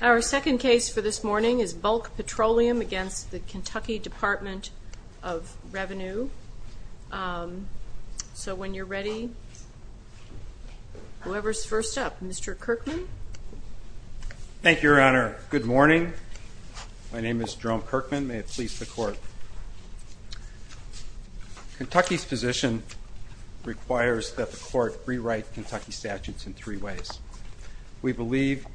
Our second case for this morning is Bulk Petroleum v. Kentucky Department of Revenue. So when you're ready, whoever's first up. Mr. Kirkman. Thank you, Your Honor. Good morning. My name is Jerome Kirkman. May it please the Court. Kentucky's position requires that the Court rewrite Kentucky statutes in three ways. We believe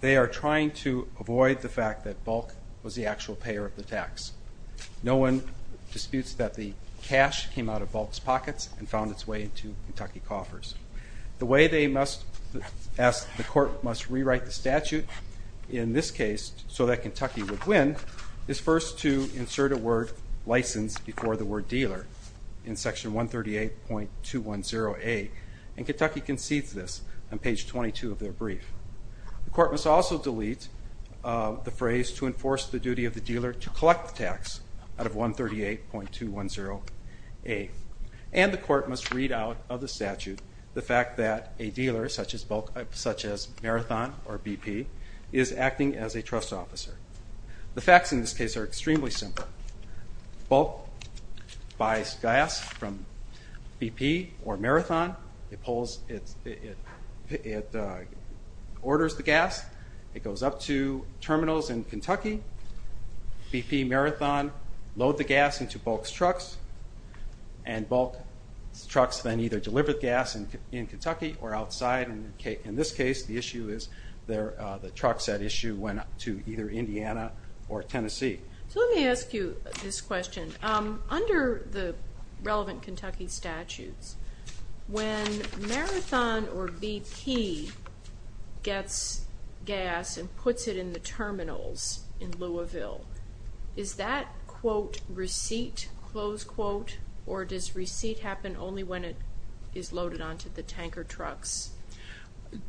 they are trying to avoid the fact that Bulk was the actual payer of the tax. No one disputes that the cash came out of Bulk's pockets and found its way into Kentucky coffers. The way the Court must rewrite the statute in this case so that Kentucky would win is first to insert a word license before the word dealer in Section 138.210A. And Kentucky concedes this on page 22 of their brief. The Court must also delete the phrase to enforce the duty of the dealer to collect the tax out of 138.210A. And the Court must read out of the statute the fact that a dealer, such as Marathon or BP, is acting as a trust officer. The facts in this case are extremely simple. Bulk buys gas from BP or Marathon. It orders the gas. It goes up to terminals in Kentucky. BP, Marathon load the gas into Bulk's trucks. And Bulk's trucks then either deliver the gas in Kentucky or outside. In this case, the issue is the trucks at issue went up to either Indiana or Tennessee. So let me ask you this question. Under the relevant Kentucky statutes, when Marathon or BP gets gas and puts it in the terminals in Louisville, is that quote, receipt, close quote, or does receipt happen only when it is loaded onto the tanker trucks?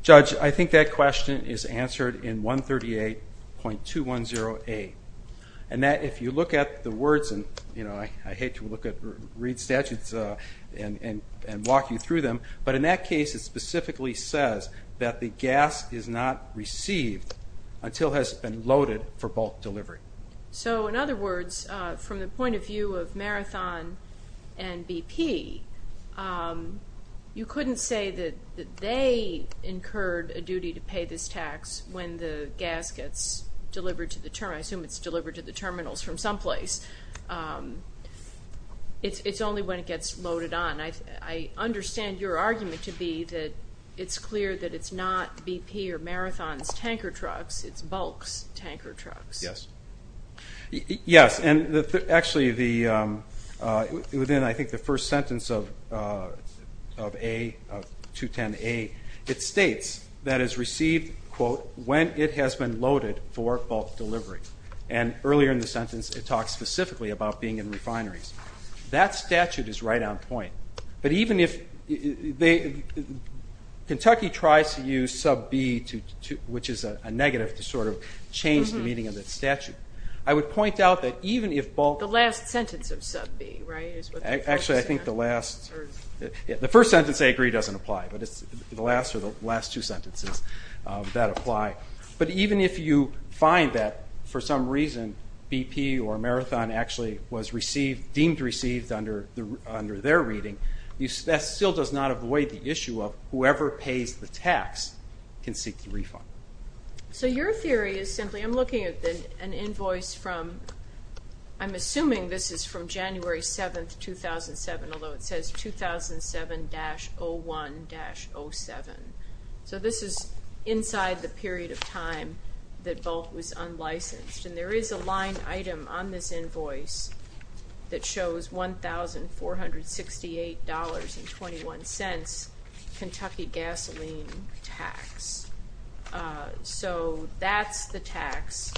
Judge, I think that question is answered in 138.210A. And if you look at the words, and I hate to read statutes and walk you through them, but in that case it specifically says that the gas is not received until it has been loaded for Bulk delivery. So in other words, from the point of view of Marathon and BP, you couldn't say that they incurred a duty to pay this tax when the gas gets delivered to the terminals from some place. It's only when it gets loaded on. I understand your argument to be that it's clear that it's not BP or Marathon's tanker trucks, it's Bulk's tanker trucks. Yes, and actually within I think the first sentence of 210A, it states that it's received, quote, when it has been loaded for Bulk delivery. And earlier in the sentence it talks specifically about being in refineries. That statute is right on point. But even if they, Kentucky tries to use sub B, which is a negative, to sort of change the meaning of that statute. I would point out that even if Bulk. The last sentence of sub B, right, is what they're focusing on. Actually, I think the last, the first sentence they agree doesn't apply, but it's the last two sentences that apply. But even if you find that for some reason BP or Marathon actually was received, deemed received under their reading, that still does not avoid the issue of whoever pays the tax can seek the refund. So your theory is simply, I'm looking at an invoice from, I'm assuming this is from January 7, 2007, although it says 2007-01-07. So this is inside the period of time that Bulk was unlicensed. And there is a line item on this invoice that shows $1,468.21 Kentucky gasoline tax. So that's the tax.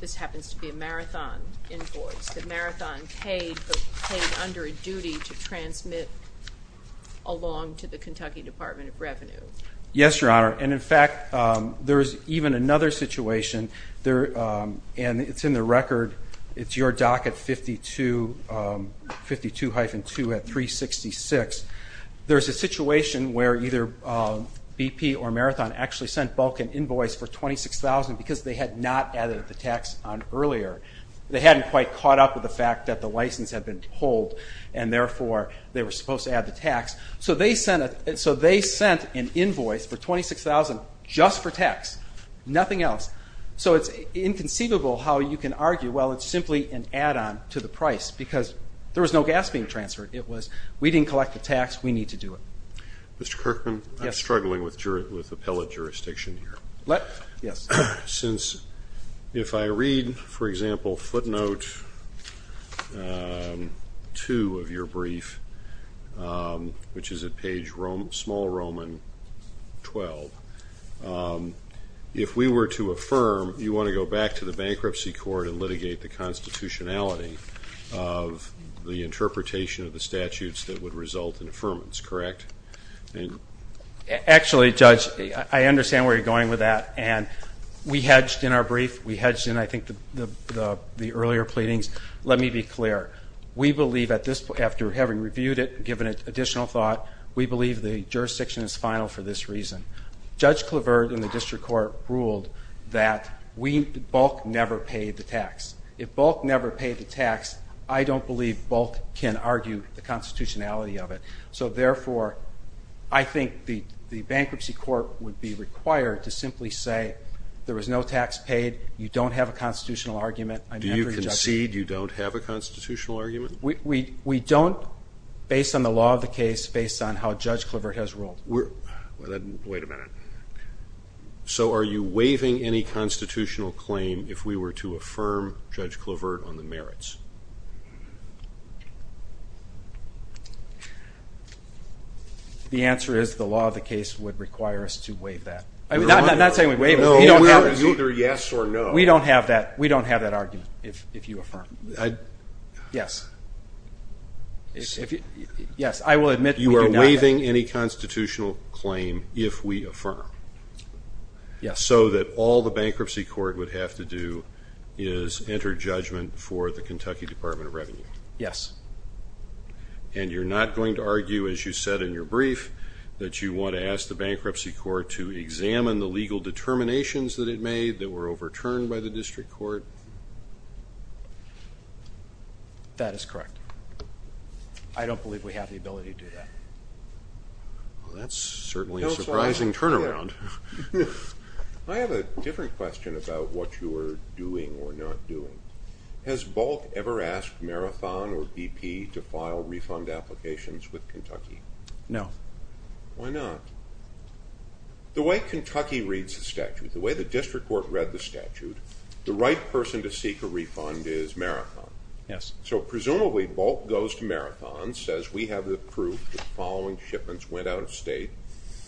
This happens to be a Marathon invoice that Marathon paid, but paid under a duty to transmit along to the Kentucky Department of Revenue. Yes, Your Honor. And, in fact, there's even another situation, and it's in the record. It's your doc at 52-2 at 366. There's a situation where either BP or Marathon actually sent Bulk an invoice for $26,000 because they had not added the tax on earlier. They hadn't quite caught up with the fact that the license had been pulled, and therefore they were supposed to add the tax. So they sent an invoice for $26,000 just for tax, nothing else. So it's inconceivable how you can argue, well, it's simply an add-on to the price because there was no gas being transferred. It was we didn't collect the tax, we need to do it. Mr. Kirkman, I'm struggling with appellate jurisdiction here. Yes. If I read, for example, footnote 2 of your brief, which is at page small Roman 12, if we were to affirm you want to go back to the bankruptcy court and litigate the constitutionality of the interpretation of the statutes that would result in affirmance, correct? Actually, Judge, I understand where you're going with that, and we hedged in our brief. We hedged in, I think, the earlier pleadings. Let me be clear. We believe at this point, after having reviewed it and given it additional thought, we believe the jurisdiction is final for this reason. Judge Clavert in the district court ruled that Bulk never paid the tax. If Bulk never paid the tax, I don't believe Bulk can argue the constitutionality of it. So, therefore, I think the bankruptcy court would be required to simply say there was no tax paid, you don't have a constitutional argument. Do you concede you don't have a constitutional argument? We don't, based on the law of the case, based on how Judge Clavert has ruled. Wait a minute. So are you waiving any constitutional claim if we were to affirm Judge Clavert on the merits? The answer is the law of the case would require us to waive that. I'm not saying we waive it. No, we're either yes or no. We don't have that argument if you affirm. Yes. Yes, I will admit we do not. You are waiving any constitutional claim if we affirm. Yes. So that all the bankruptcy court would have to do is enter judgment for the Kentucky Department of Revenue. Yes. And you're not going to argue, as you said in your brief, that you want to ask the bankruptcy court to examine the legal determinations that it made that were overturned by the district court? That is correct. I don't believe we have the ability to do that. Well, that's certainly a surprising turnaround. I have a different question about what you are doing or not doing. Has Bulk ever asked Marathon or BP to file refund applications with Kentucky? No. Why not? The way Kentucky reads the statute, the way the district court read the statute, the right person to seek a refund is Marathon. Yes. So presumably Bulk goes to Marathon, says, we have the proof that the following shipments went out of state,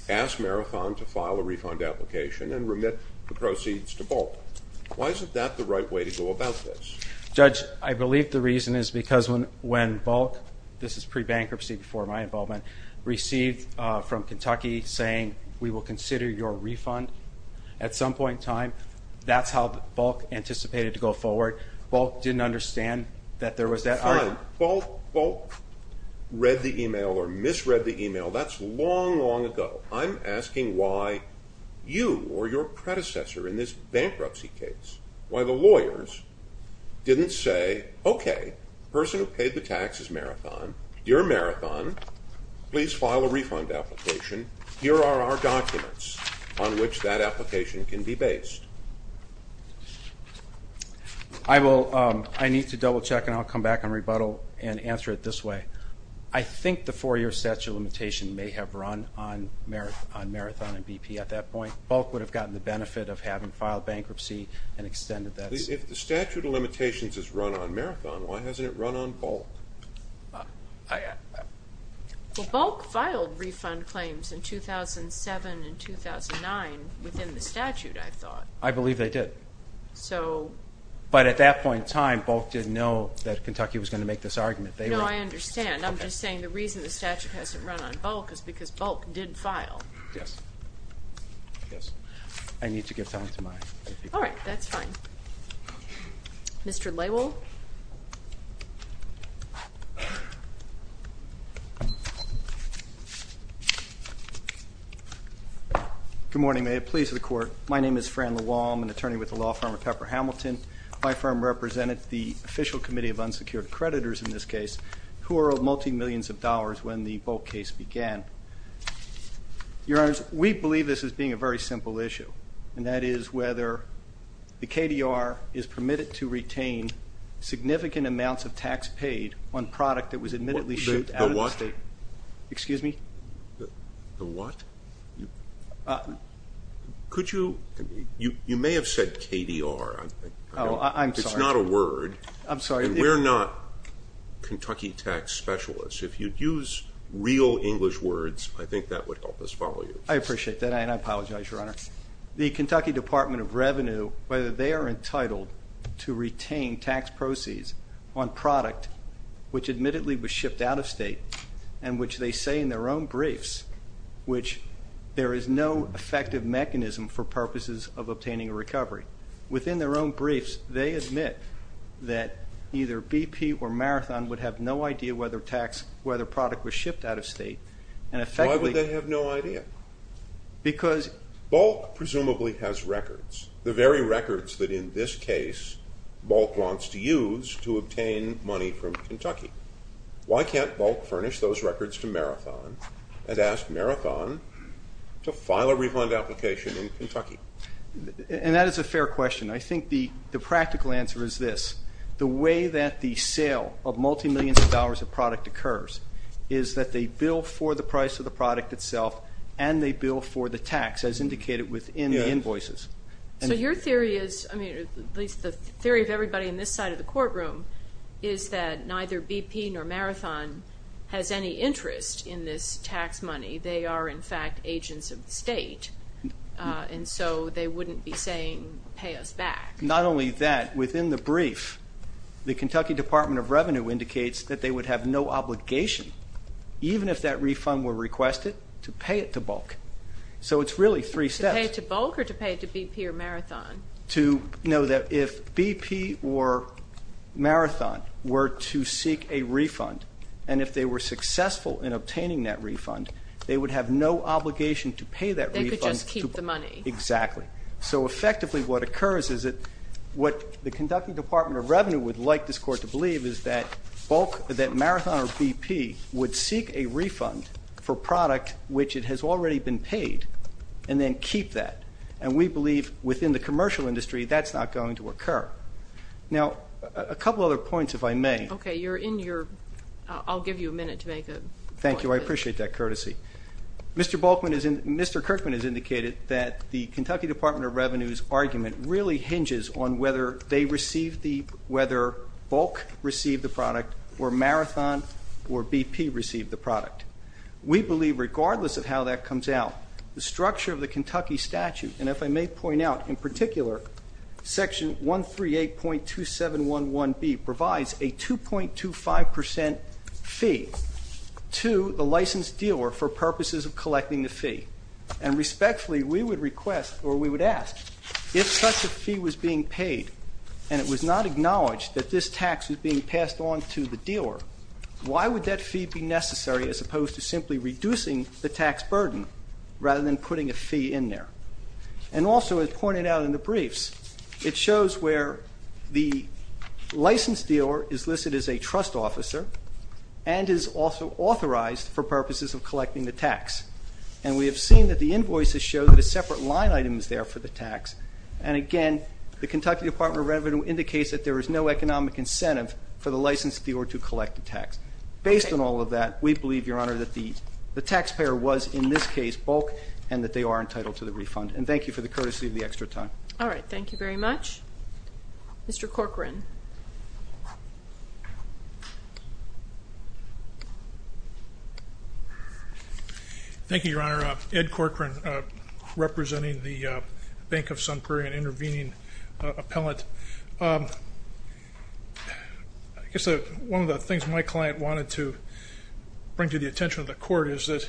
asks Marathon to file a refund application and remit the proceeds to Bulk. Why isn't that the right way to go about this? Judge, I believe the reason is because when Bulk, this is pre-bankruptcy before my involvement, that's how Bulk anticipated to go forward. Bulk didn't understand that there was that item. Fine. Bulk read the email or misread the email. That's long, long ago. I'm asking why you or your predecessor in this bankruptcy case, why the lawyers didn't say, okay, person who paid the tax is Marathon. Dear Marathon, please file a refund application. Here are our documents on which that application can be based. I need to double check, and I'll come back and rebuttal and answer it this way. I think the four-year statute limitation may have run on Marathon and BP at that point. Bulk would have gotten the benefit of having filed bankruptcy and extended that. If the statute of limitations is run on Marathon, why hasn't it run on Bulk? Well, Bulk filed refund claims in 2007 and 2009 within the statute, I thought. I believe they did. But at that point in time, Bulk didn't know that Kentucky was going to make this argument. No, I understand. I'm just saying the reason the statute hasn't run on Bulk is because Bulk did file. Yes. I need to give time to my other people. All right, that's fine. Mr. Laywell. Good morning. May it please the Court. My name is Fran LaWall. I'm an attorney with the law firm at Pepper Hamilton. My firm represented the official committee of unsecured creditors in this case, who were of multimillions of dollars when the Bulk case began. Your Honors, we believe this as being a very simple issue, and that is whether the KDR is permitted to retain significant amounts of tax paid on product that was admittedly shipped out of the state. The what? Excuse me? The what? Could you? You may have said KDR. Oh, I'm sorry. It's not a word. I'm sorry. And we're not Kentucky tax specialists. If you'd use real English words, I think that would help us follow you. I appreciate that, and I apologize, Your Honor. The Kentucky Department of Revenue, whether they are entitled to retain tax proceeds on product, which admittedly was shipped out of state, and which they say in their own briefs, which there is no effective mechanism for purposes of obtaining a recovery. Within their own briefs, they admit that either BP or Marathon would have no idea whether product was shipped out of state. Why would they have no idea? Bulk presumably has records, the very records that, in this case, Bulk wants to use to obtain money from Kentucky. Why can't Bulk furnish those records to Marathon and ask Marathon to file a refund application in Kentucky? And that is a fair question. I think the practical answer is this. The way that the sale of multimillions of dollars of product occurs is that they bill for the price of the product itself and they bill for the tax, as indicated within the invoices. So your theory is, at least the theory of everybody on this side of the courtroom, is that neither BP nor Marathon has any interest in this tax money. They are, in fact, agents of the state, and so they wouldn't be saying, pay us back. Not only that, within the brief, the Kentucky Department of Revenue indicates that they would have no obligation, even if that refund were requested, to pay it to Bulk. So it's really three steps. To pay it to Bulk or to pay it to BP or Marathon? No, that if BP or Marathon were to seek a refund, and if they were successful in obtaining that refund, they would have no obligation to pay that refund. They could just keep the money. Exactly. So, effectively, what occurs is that what the Kentucky Department of Revenue would like this court to believe is that Marathon or BP would seek a refund for product which it has already been paid and then keep that. And we believe, within the commercial industry, that's not going to occur. Now, a couple other points, if I may. Okay, you're in your ñ I'll give you a minute to make a point. Thank you. I appreciate that courtesy. Mr. Kirkman has indicated that the Kentucky Department of Revenue's argument really hinges on whether they receive the ñ whether Bulk receive the product or Marathon or BP receive the product. We believe, regardless of how that comes out, the structure of the Kentucky statute, and if I may point out, in particular, Section 138.2711B provides a 2.25 percent fee to the licensed dealer for purposes of collecting the fee. And respectfully, we would request, or we would ask, if such a fee was being paid and it was not acknowledged that this tax was being passed on to the dealer, why would that fee be necessary as opposed to simply reducing the tax burden rather than putting a fee in there? And also, as pointed out in the briefs, it shows where the licensed dealer is listed as a trust officer and is also authorized for purposes of collecting the tax. And we have seen that the invoices show that a separate line item is there for the tax. And again, the Kentucky Department of Revenue indicates that there is no economic incentive for the licensed dealer to collect the tax. Based on all of that, we believe, Your Honor, that the taxpayer was, in this case, bulk and that they are entitled to the refund. And thank you for the courtesy of the extra time. All right. Thank you very much. Mr. Corcoran. Thank you, Your Honor. Ed Corcoran, representing the Bank of Sun Prairie and intervening appellant. I guess one of the things my client wanted to bring to the attention of the court is that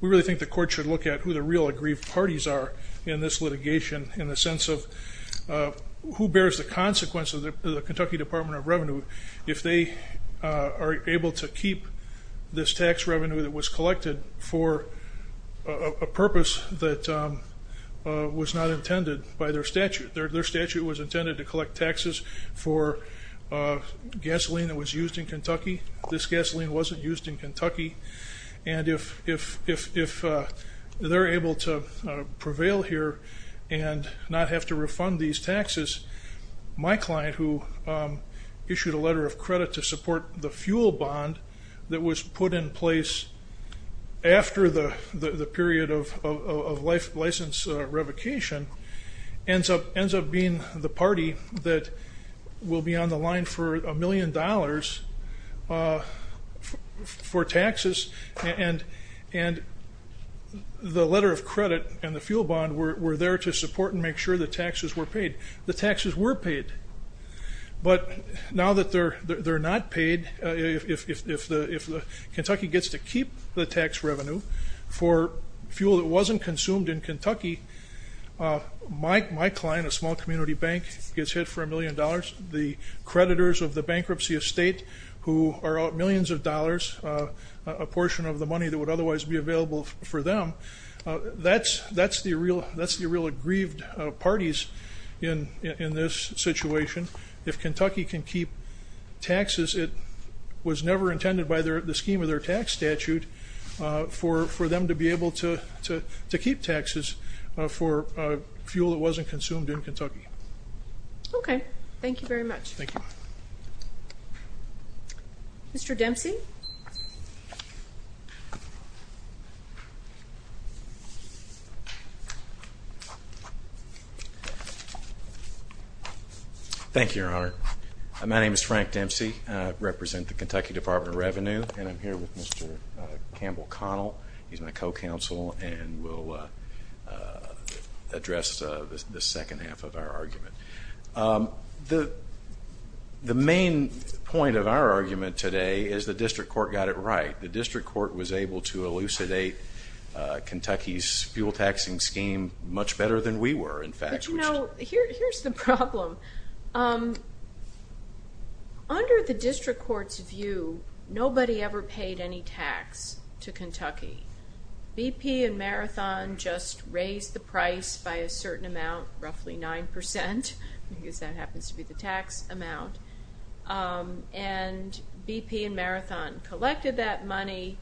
we really think the court should look at who the real aggrieved parties are in this litigation in the sense of who bears the consequence of the Kentucky Department of Revenue if they are able to keep this tax revenue that was collected for a purpose that was not intended by their statute. Their statute was intended to collect taxes for gasoline that was used in Kentucky. This gasoline wasn't used in Kentucky. And if they're able to prevail here and not have to refund these taxes, my client, who issued a letter of credit to support the fuel bond that was put in place after the period of license revocation, ends up being the party that will be on the line for a million dollars for taxes. And the letter of credit and the fuel bond were there to support and make sure the taxes were paid. The taxes were paid. But now that they're not paid, if Kentucky gets to keep the tax revenue for fuel that wasn't consumed in Kentucky, my client, a small community bank, gets hit for a million dollars. The creditors of the bankruptcy estate who are out millions of dollars, a portion of the money that would otherwise be available for them, that's the real aggrieved parties in this situation. If Kentucky can keep taxes, it was never intended by the scheme of their tax statute for them to be able to keep taxes for fuel that wasn't consumed in Kentucky. Okay. Thank you very much. Thank you. Mr. Dempsey. Thank you, Your Honor. My name is Frank Dempsey. I represent the Kentucky Department of Revenue, and I'm here with Mr. Campbell Connell. He's my co-counsel and will address the second half of our argument. The main point of our argument today is the district court got it right. The district court was able to elucidate Kentucky's fuel taxing scheme much better than we were, in fact. But, you know, here's the problem. Under the district court's view, nobody ever paid any tax to Kentucky. BP and Marathon just raised the price by a certain amount, roughly 9%, because that happens to be the tax amount. And BP and Marathon collected that money,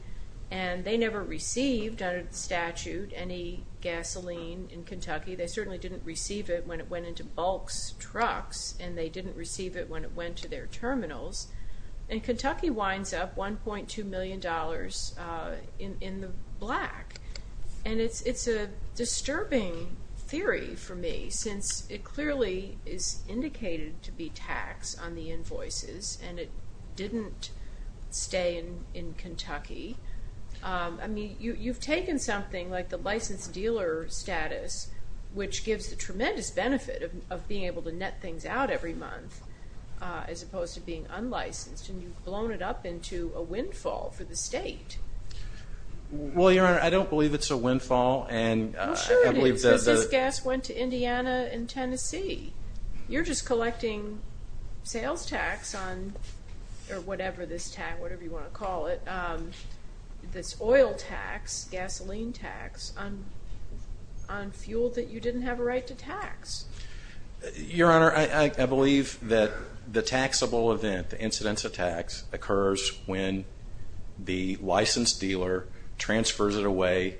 and they never received under the statute any gasoline in Kentucky. They certainly didn't receive it when it went into Bulk's trucks, and they didn't receive it when it went to their terminals. And Kentucky winds up $1.2 million in the black. And it's a disturbing theory for me, since it clearly is indicated to be taxed on the invoices, and it didn't stay in Kentucky. I mean, you've taken something like the licensed dealer status, which gives the tremendous benefit of being able to net things out every month, as opposed to being unlicensed, and you've blown it up into a windfall for the state. Well, Your Honor, I don't believe it's a windfall. I'm sure it is, because this gas went to Indiana and Tennessee. You're just collecting sales tax on, or whatever this tax, whatever you want to call it, this oil tax, gasoline tax, on fuel that you didn't have a right to tax. Your Honor, I believe that the taxable event, the incidence of tax, occurs when the licensed dealer transfers it away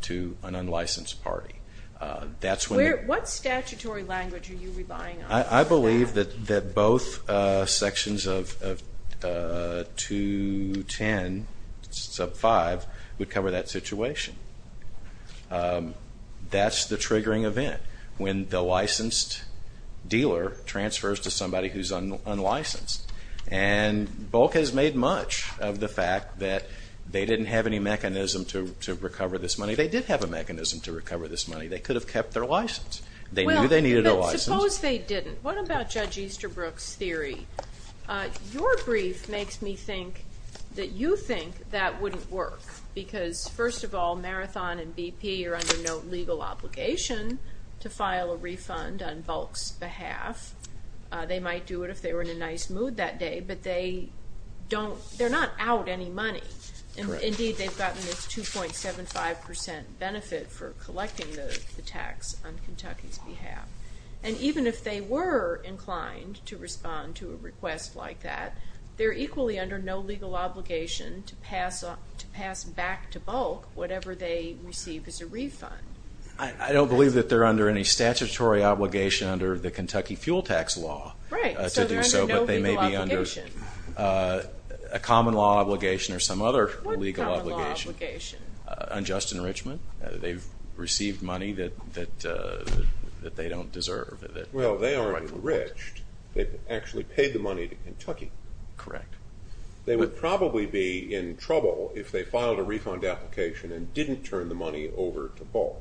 to an unlicensed party. What statutory language are you relying on for that? I believe that both sections of 210 sub 5 would cover that situation. That's the triggering event, when the licensed dealer transfers to somebody who's unlicensed. And Bulk has made much of the fact that they didn't have any mechanism to recover this money. They did have a mechanism to recover this money. They could have kept their license. They knew they needed a license. Well, but suppose they didn't. What about Judge Easterbrook's theory? Your brief makes me think that you think that wouldn't work, because, first of all, Marathon and BP are under no legal obligation to file a refund on Bulk's behalf. They might do it if they were in a nice mood that day, but they're not out any money. Indeed, they've gotten this 2.75% benefit for collecting the tax on Kentucky's behalf. And even if they were inclined to respond to a request like that, they're equally under no legal obligation to pass back to Bulk whatever they receive as a refund. I don't believe that they're under any statutory obligation under the Kentucky fuel tax law to do so, but they may be under a common law obligation or some other legal obligation. What common law obligation? Unjust enrichment. They've received money that they don't deserve. Well, they aren't enriched. They've actually paid the money to Kentucky. Correct. They would probably be in trouble if they filed a refund application and didn't turn the money over to Bulk.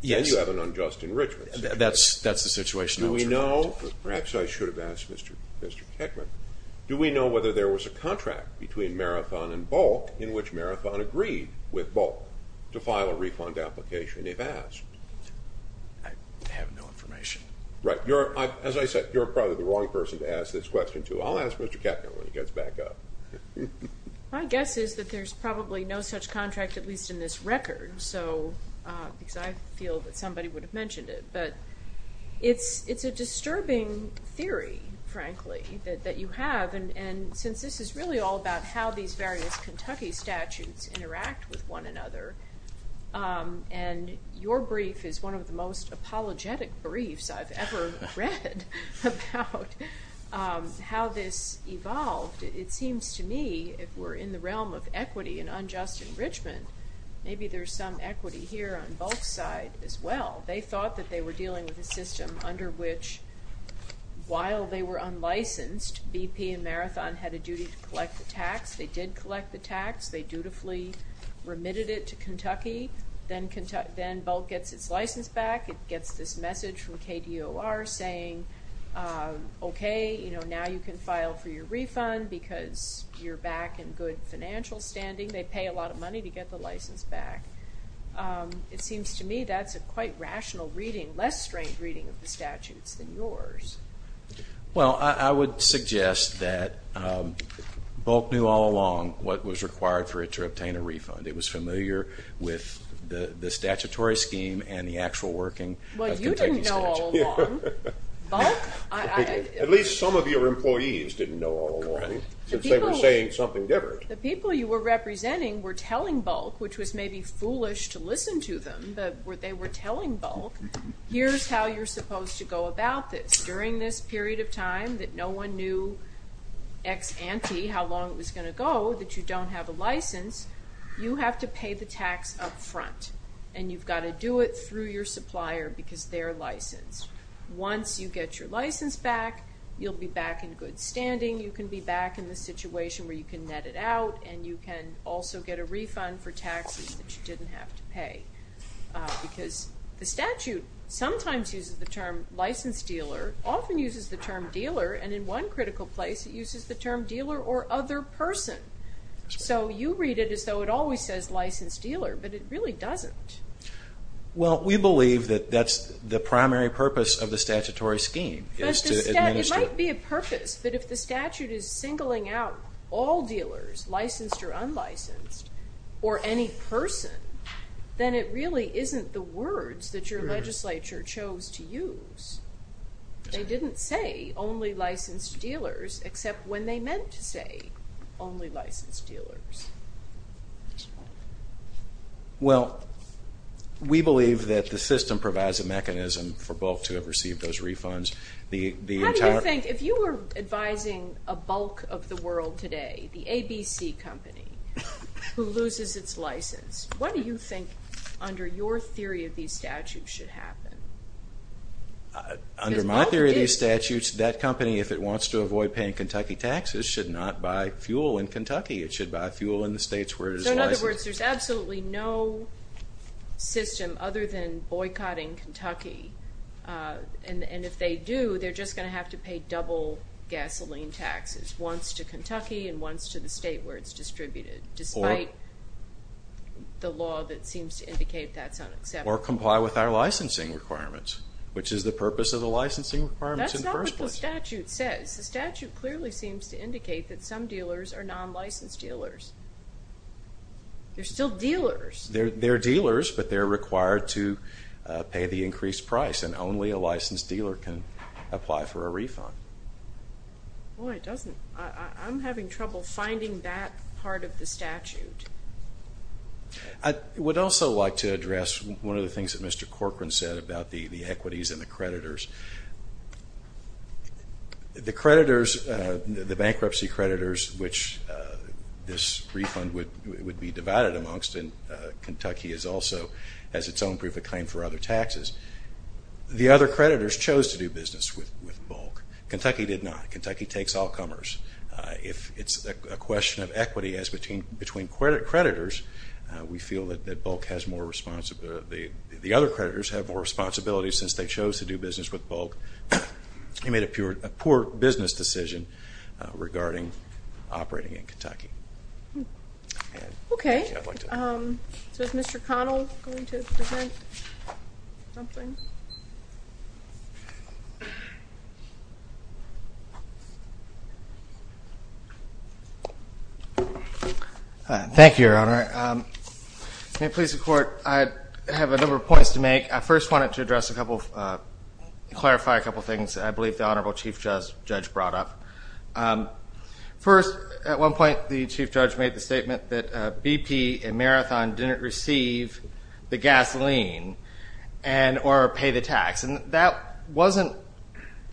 Yes. Then you have an unjust enrichment situation. That's the situation I was referring to. Perhaps I should have asked Mr. Kekman. Do we know whether there was a contract between Marathon and Bulk in which Marathon agreed with Bulk to file a refund application, if asked? I have no information. Right. As I said, you're probably the wrong person to ask this question to. I'll ask Mr. Kekman when he gets back up. My guess is that there's probably no such contract, at least in this record, because I feel that somebody would have mentioned it. But it's a disturbing theory, frankly, that you have, and since this is really all about how these various Kentucky statutes interact with one another and your brief is one of the most apologetic briefs I've ever read about how this evolved, it seems to me if we're in the realm of equity and unjust enrichment, maybe there's some equity here on Bulk's side as well. They thought that they were dealing with a system under which, while they were unlicensed, BP and Marathon had a duty to collect the tax. They did collect the tax. They dutifully remitted it to Kentucky. Then Bulk gets its license back. It gets this message from KDOR saying, okay, now you can file for your refund because you're back in good financial standing. They pay a lot of money to get the license back. It seems to me that's a quite rational reading, less strange reading of the statutes than yours. Well, I would suggest that Bulk knew all along what was required for it to obtain a refund. It was familiar with the statutory scheme and the actual working of the Kentucky statute. Well, you didn't know all along. Bulk? At least some of your employees didn't know all along since they were saying something different. The people you were representing were telling Bulk, which was maybe foolish to listen to them, but they were telling Bulk, here's how you're supposed to go about this. During this period of time that no one knew ex ante how long it was going to go that you don't have a license, you have to pay the tax up front, and you've got to do it through your supplier because they're licensed. Once you get your license back, you'll be back in good standing. You can be back in the situation where you can net it out, and you can also get a refund for taxes that you didn't have to pay. Because the statute sometimes uses the term licensed dealer, often uses the term dealer, and in one critical place it uses the term dealer or other person. So you read it as though it always says licensed dealer, but it really doesn't. Well, we believe that that's the primary purpose of the statutory scheme is to administer it. It might be a purpose, but if the statute is singling out all dealers, licensed or unlicensed, or any person, then it really isn't the words that your legislature chose to use. They didn't say only licensed dealers, except when they meant to say only licensed dealers. Well, we believe that the system provides a mechanism for Bulk to have received those refunds. How do you think, if you were advising a bulk of the world today, the ABC company, who loses its license, what do you think, under your theory of these statutes, should happen? Under my theory of these statutes, that company, if it wants to avoid paying Kentucky taxes, should not buy fuel in Kentucky. It should buy fuel in the states where it is licensed. So, in other words, there's absolutely no system other than boycotting Kentucky. And if they do, they're just going to have to pay double gasoline taxes, once to Kentucky and once to the state where it's distributed. Despite the law that seems to indicate that's unacceptable. Or comply with our licensing requirements, which is the purpose of the licensing requirements in the first place. That's not what the statute says. The statute clearly seems to indicate that some dealers are non-licensed dealers. They're still dealers. They're dealers, but they're required to pay the increased price, and only a licensed dealer can apply for a refund. Boy, it doesn't. I'm having trouble finding that part of the statute. I would also like to address one of the things that Mr. Corcoran said about the equities and the creditors. The creditors, the bankruptcy creditors, which this refund would be divided amongst, and Kentucky is also, has its own proof of claim for other taxes. The other creditors chose to do business with Bulk. Kentucky did not. Kentucky takes all comers. If it's a question of equity between creditors, we feel that Bulk has more responsibility. The other creditors have more responsibility since they chose to do business with Bulk. They made a poor business decision regarding operating in Kentucky. Okay. So is Mr. Connell going to present something? Thank you, Your Honor. May it please the Court, I have a number of points to make. I first wanted to address a couple of, clarify a couple of things I believe the Honorable Chief Judge brought up. First, at one point the Chief Judge made the statement that BP and Marathon didn't receive the gasoline or pay the tax. And that wasn't,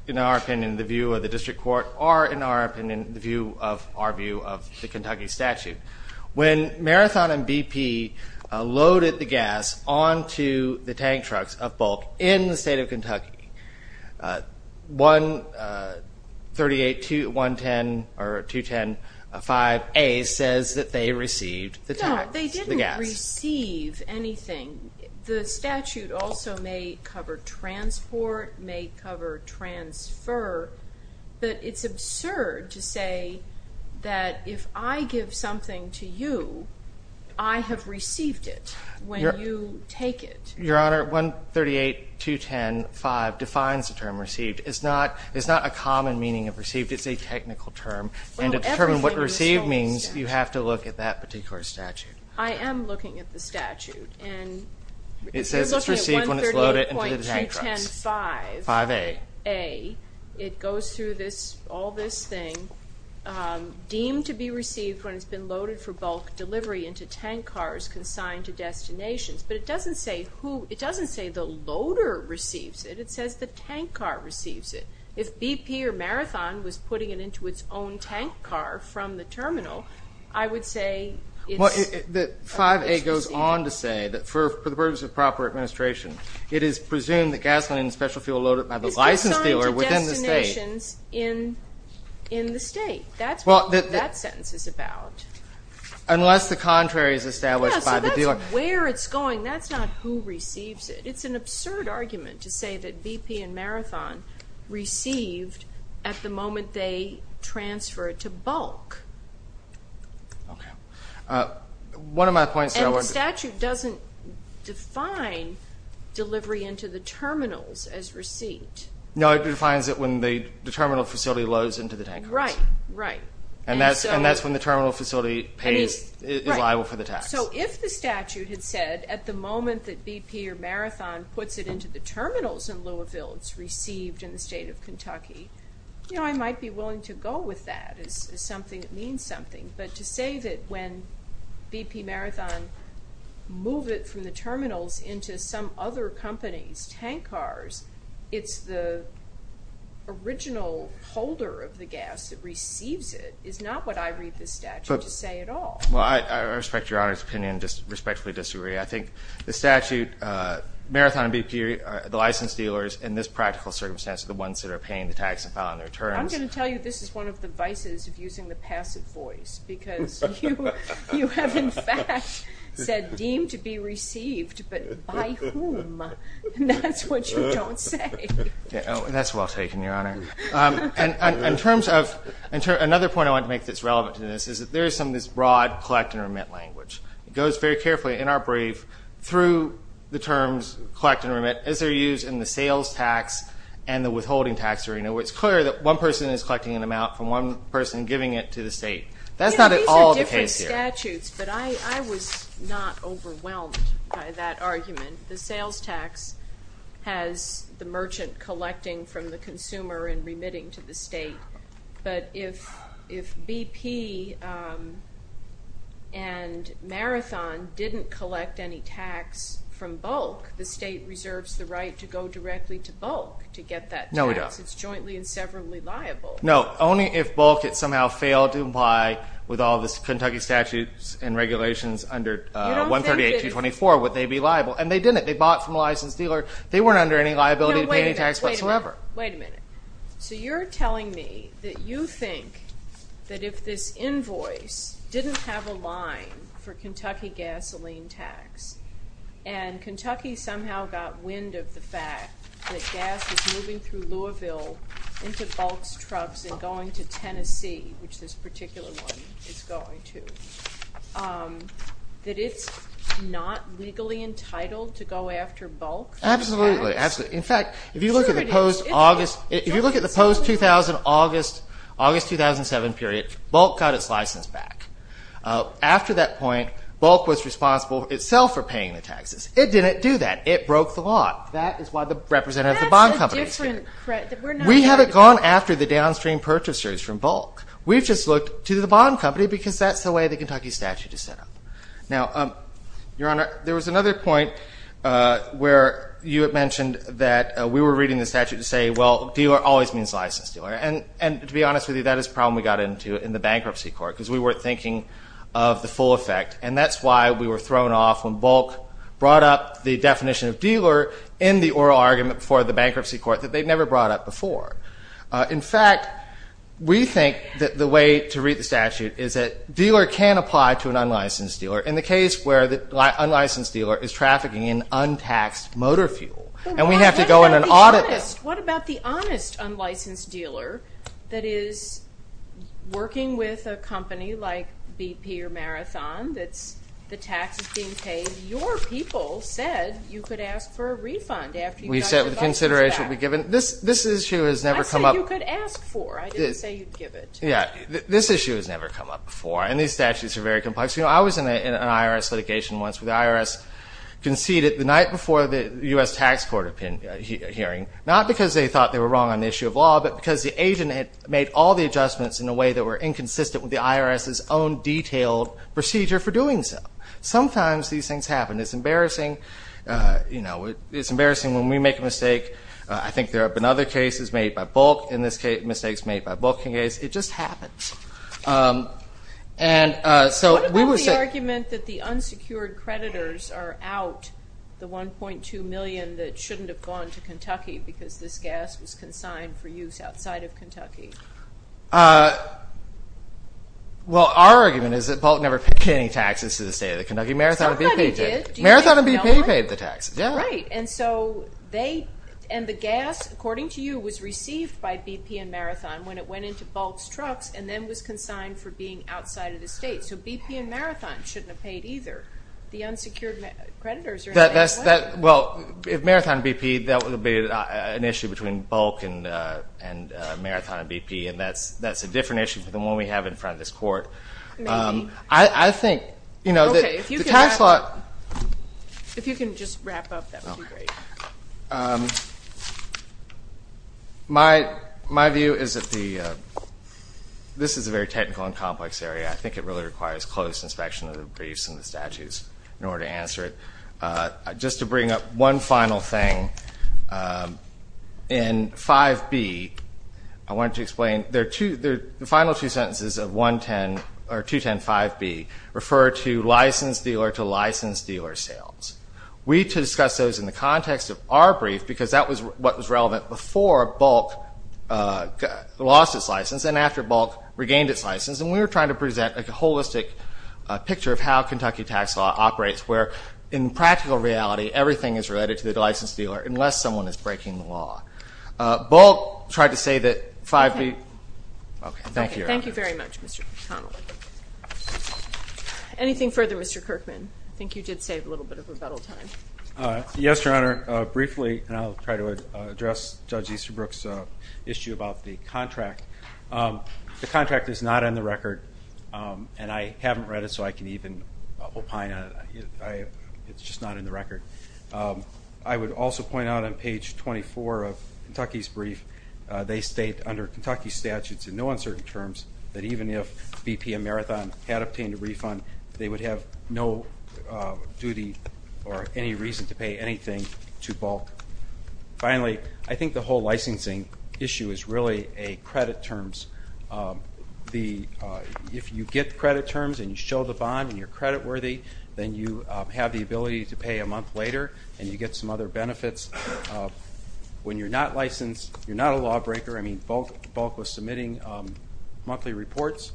in our opinion, the view of the district court or, in our opinion, the view of our view of the Kentucky statute. When Marathon and BP loaded the gas onto the tank trucks of Bulk in the state of Kentucky, 138.210.5A says that they received the gas. No, they didn't receive anything. The statute also may cover transport, may cover transfer. But it's absurd to say that if I give something to you, I have received it when you take it. Your Honor, 138.210.5 defines the term received. It's not a common meaning of received. It's a technical term. And to determine what received means, you have to look at that particular statute. I am looking at the statute. It says it's received when it's loaded into the tank trucks. 138.210.5A. It goes through all this thing, deemed to be received when it's been loaded for bulk delivery into tank cars consigned to destinations. But it doesn't say who the loader receives it. It says the tank car receives it. If BP or Marathon was putting it into its own tank car from the terminal, I would say it's received. Well, 5A goes on to say that for the purpose of proper administration, it is presumed that gasoline and special fuel loaded by the licensed dealer within the state. It's consigned to destinations in the state. That's what that sentence is about. Unless the contrary is established by the dealer. Where it's going, that's not who receives it. It's an absurd argument to say that BP and Marathon received at the moment they transferred to bulk. Okay. One of my points there was the statute doesn't define delivery into the terminals as received. No, it defines it when the terminal facility loads into the tank cars. Right, right. And that's when the terminal facility is liable for the tax. So if the statute had said at the moment that BP or Marathon puts it into the terminals in Louisville, it's received in the state of Kentucky, you know, I might be willing to go with that. It's something that means something. But to say that when BP Marathon moved it from the terminals into some other company's tank cars, it's the original holder of the gas that receives it is not what I read the statute to say at all. Well, I respect Your Honor's opinion and just respectfully disagree. I think the statute, Marathon and BP, the licensed dealers in this practical circumstance, are the ones that are paying the tax and filing their terms. I'm going to tell you this is one of the vices of using the passive voice, because you have in fact said deemed to be received, but by whom? And that's what you don't say. That's well taken, Your Honor. In terms of another point I want to make that's relevant to this is that there is some of this broad collect and remit language that goes very carefully in our brief through the terms collect and remit as they're used in the sales tax and the withholding tax arena, where it's clear that one person is collecting an amount from one person giving it to the state. That's not at all the case here. These are different statutes, but I was not overwhelmed by that argument. The sales tax has the merchant collecting from the consumer and remitting to the state, but if BP and Marathon didn't collect any tax from bulk, the state reserves the right to go directly to bulk to get that tax. No, we don't. It's jointly and severally liable. No, only if bulk had somehow failed to comply with all the Kentucky statutes and regulations under 138224 would they be liable, and they didn't. They bought from a licensed dealer. They weren't under any liability to pay any tax whatsoever. Wait a minute. So you're telling me that you think that if this invoice didn't have a line for Kentucky gasoline tax and Kentucky somehow got wind of the fact that gas is moving through Louisville into bulk trucks and going to Tennessee, which this particular one is going to, that it's not legally entitled to go after bulk tax? Absolutely. In fact, if you look at the post-August 2007 period, bulk got its license back. After that point, bulk was responsible itself for paying the taxes. It didn't do that. It broke the law. That is why the representative of the bond company is here. We haven't gone after the downstream purchasers from bulk. We've just looked to the bond company because that's the way the Kentucky statute is set up. Now, Your Honor, there was another point where you had mentioned that we were reading the statute to say, well, dealer always means licensed dealer. And to be honest with you, that is a problem we got into in the bankruptcy court because we weren't thinking of the full effect, and that's why we were thrown off when bulk brought up the definition of dealer in the oral argument for the bankruptcy court that they'd never brought up before. In fact, we think that the way to read the statute is that dealer can apply to an unlicensed dealer in the case where the unlicensed dealer is trafficking in untaxed motor fuel, and we have to go in and audit that. What about the honest unlicensed dealer that is working with a company like BP or Marathon that the tax is being paid? And your people said you could ask for a refund after you've done your business act. We said the consideration would be given. This issue has never come up. I said you could ask for. I didn't say you'd give it. Yeah. This issue has never come up before, and these statutes are very complex. You know, I was in an IRS litigation once where the IRS conceded the night before the U.S. tax court hearing, not because they thought they were wrong on the issue of law, but because the agent had made all the adjustments in a way that were inconsistent with the IRS's own detailed procedure for doing so. Sometimes these things happen. It's embarrassing when we make a mistake. I think there have been other cases made by Bolt. In this case, mistakes made by Bolt. It just happens. What about the argument that the unsecured creditors are out, the $1.2 million that shouldn't have gone to Kentucky because this gas was consigned for use outside of Kentucky? Well, our argument is that Bolt never paid any taxes to the state of the Kentucky. Marathon and BP did. Somebody did. Marathon and BP paid the taxes, yeah. Right, and so they – and the gas, according to you, was received by BP and Marathon when it went into Bolt's trucks and then was consigned for being outside of the state. So BP and Marathon shouldn't have paid either. The unsecured creditors are – Well, Marathon and BP, that would be an issue between Bolt and Marathon and BP, and that's a different issue than the one we have in front of this court. Maybe. I think that the tax law – If you can just wrap up, that would be great. My view is that this is a very technical and complex area. I think it really requires close inspection of the briefs and the statutes in order to answer it. Just to bring up one final thing, in 5B, I wanted to explain, the final two sentences of 210-5B refer to license dealer to license dealer sales. We discussed those in the context of our brief because that was what was relevant before Bolt lost his license and after Bolt regained his license, and we were trying to present a holistic picture of how Kentucky tax law operates where in practical reality everything is related to the license dealer unless someone is breaking the law. Bolt tried to say that 5B – Okay. Thank you, Your Honor. Thank you very much, Mr. McConnell. Anything further, Mr. Kirkman? I think you did save a little bit of rebuttal time. Yes, Your Honor. Briefly, and I'll try to address Judge Easterbrook's issue about the contract. The contract is not on the record, and I haven't read it so I can even opine on it. It's just not in the record. I would also point out on page 24 of Kentucky's brief, they state under Kentucky statutes in no uncertain terms that even if BPM Marathon had obtained a refund, they would have no duty or any reason to pay anything to Bolt. Finally, I think the whole licensing issue is really credit terms. If you get credit terms and you show the bond and you're creditworthy, then you have the ability to pay a month later and you get some other benefits. When you're not licensed, you're not a lawbreaker. I mean, Bolt was submitting monthly reports.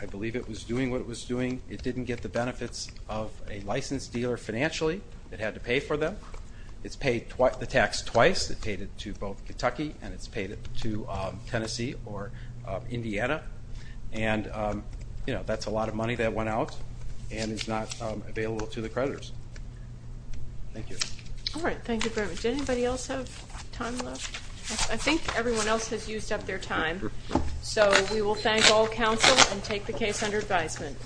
I believe it was doing what it was doing. It didn't get the benefits of a licensed dealer financially. It had to pay for them. It's paid the tax twice. It paid it to both Kentucky and it's paid it to Tennessee or Indiana. And, you know, that's a lot of money that went out and is not available to the creditors. Thank you. All right, thank you very much. Anybody else have time left? I think everyone else has used up their time. So we will thank all counsel and take the case under advisement.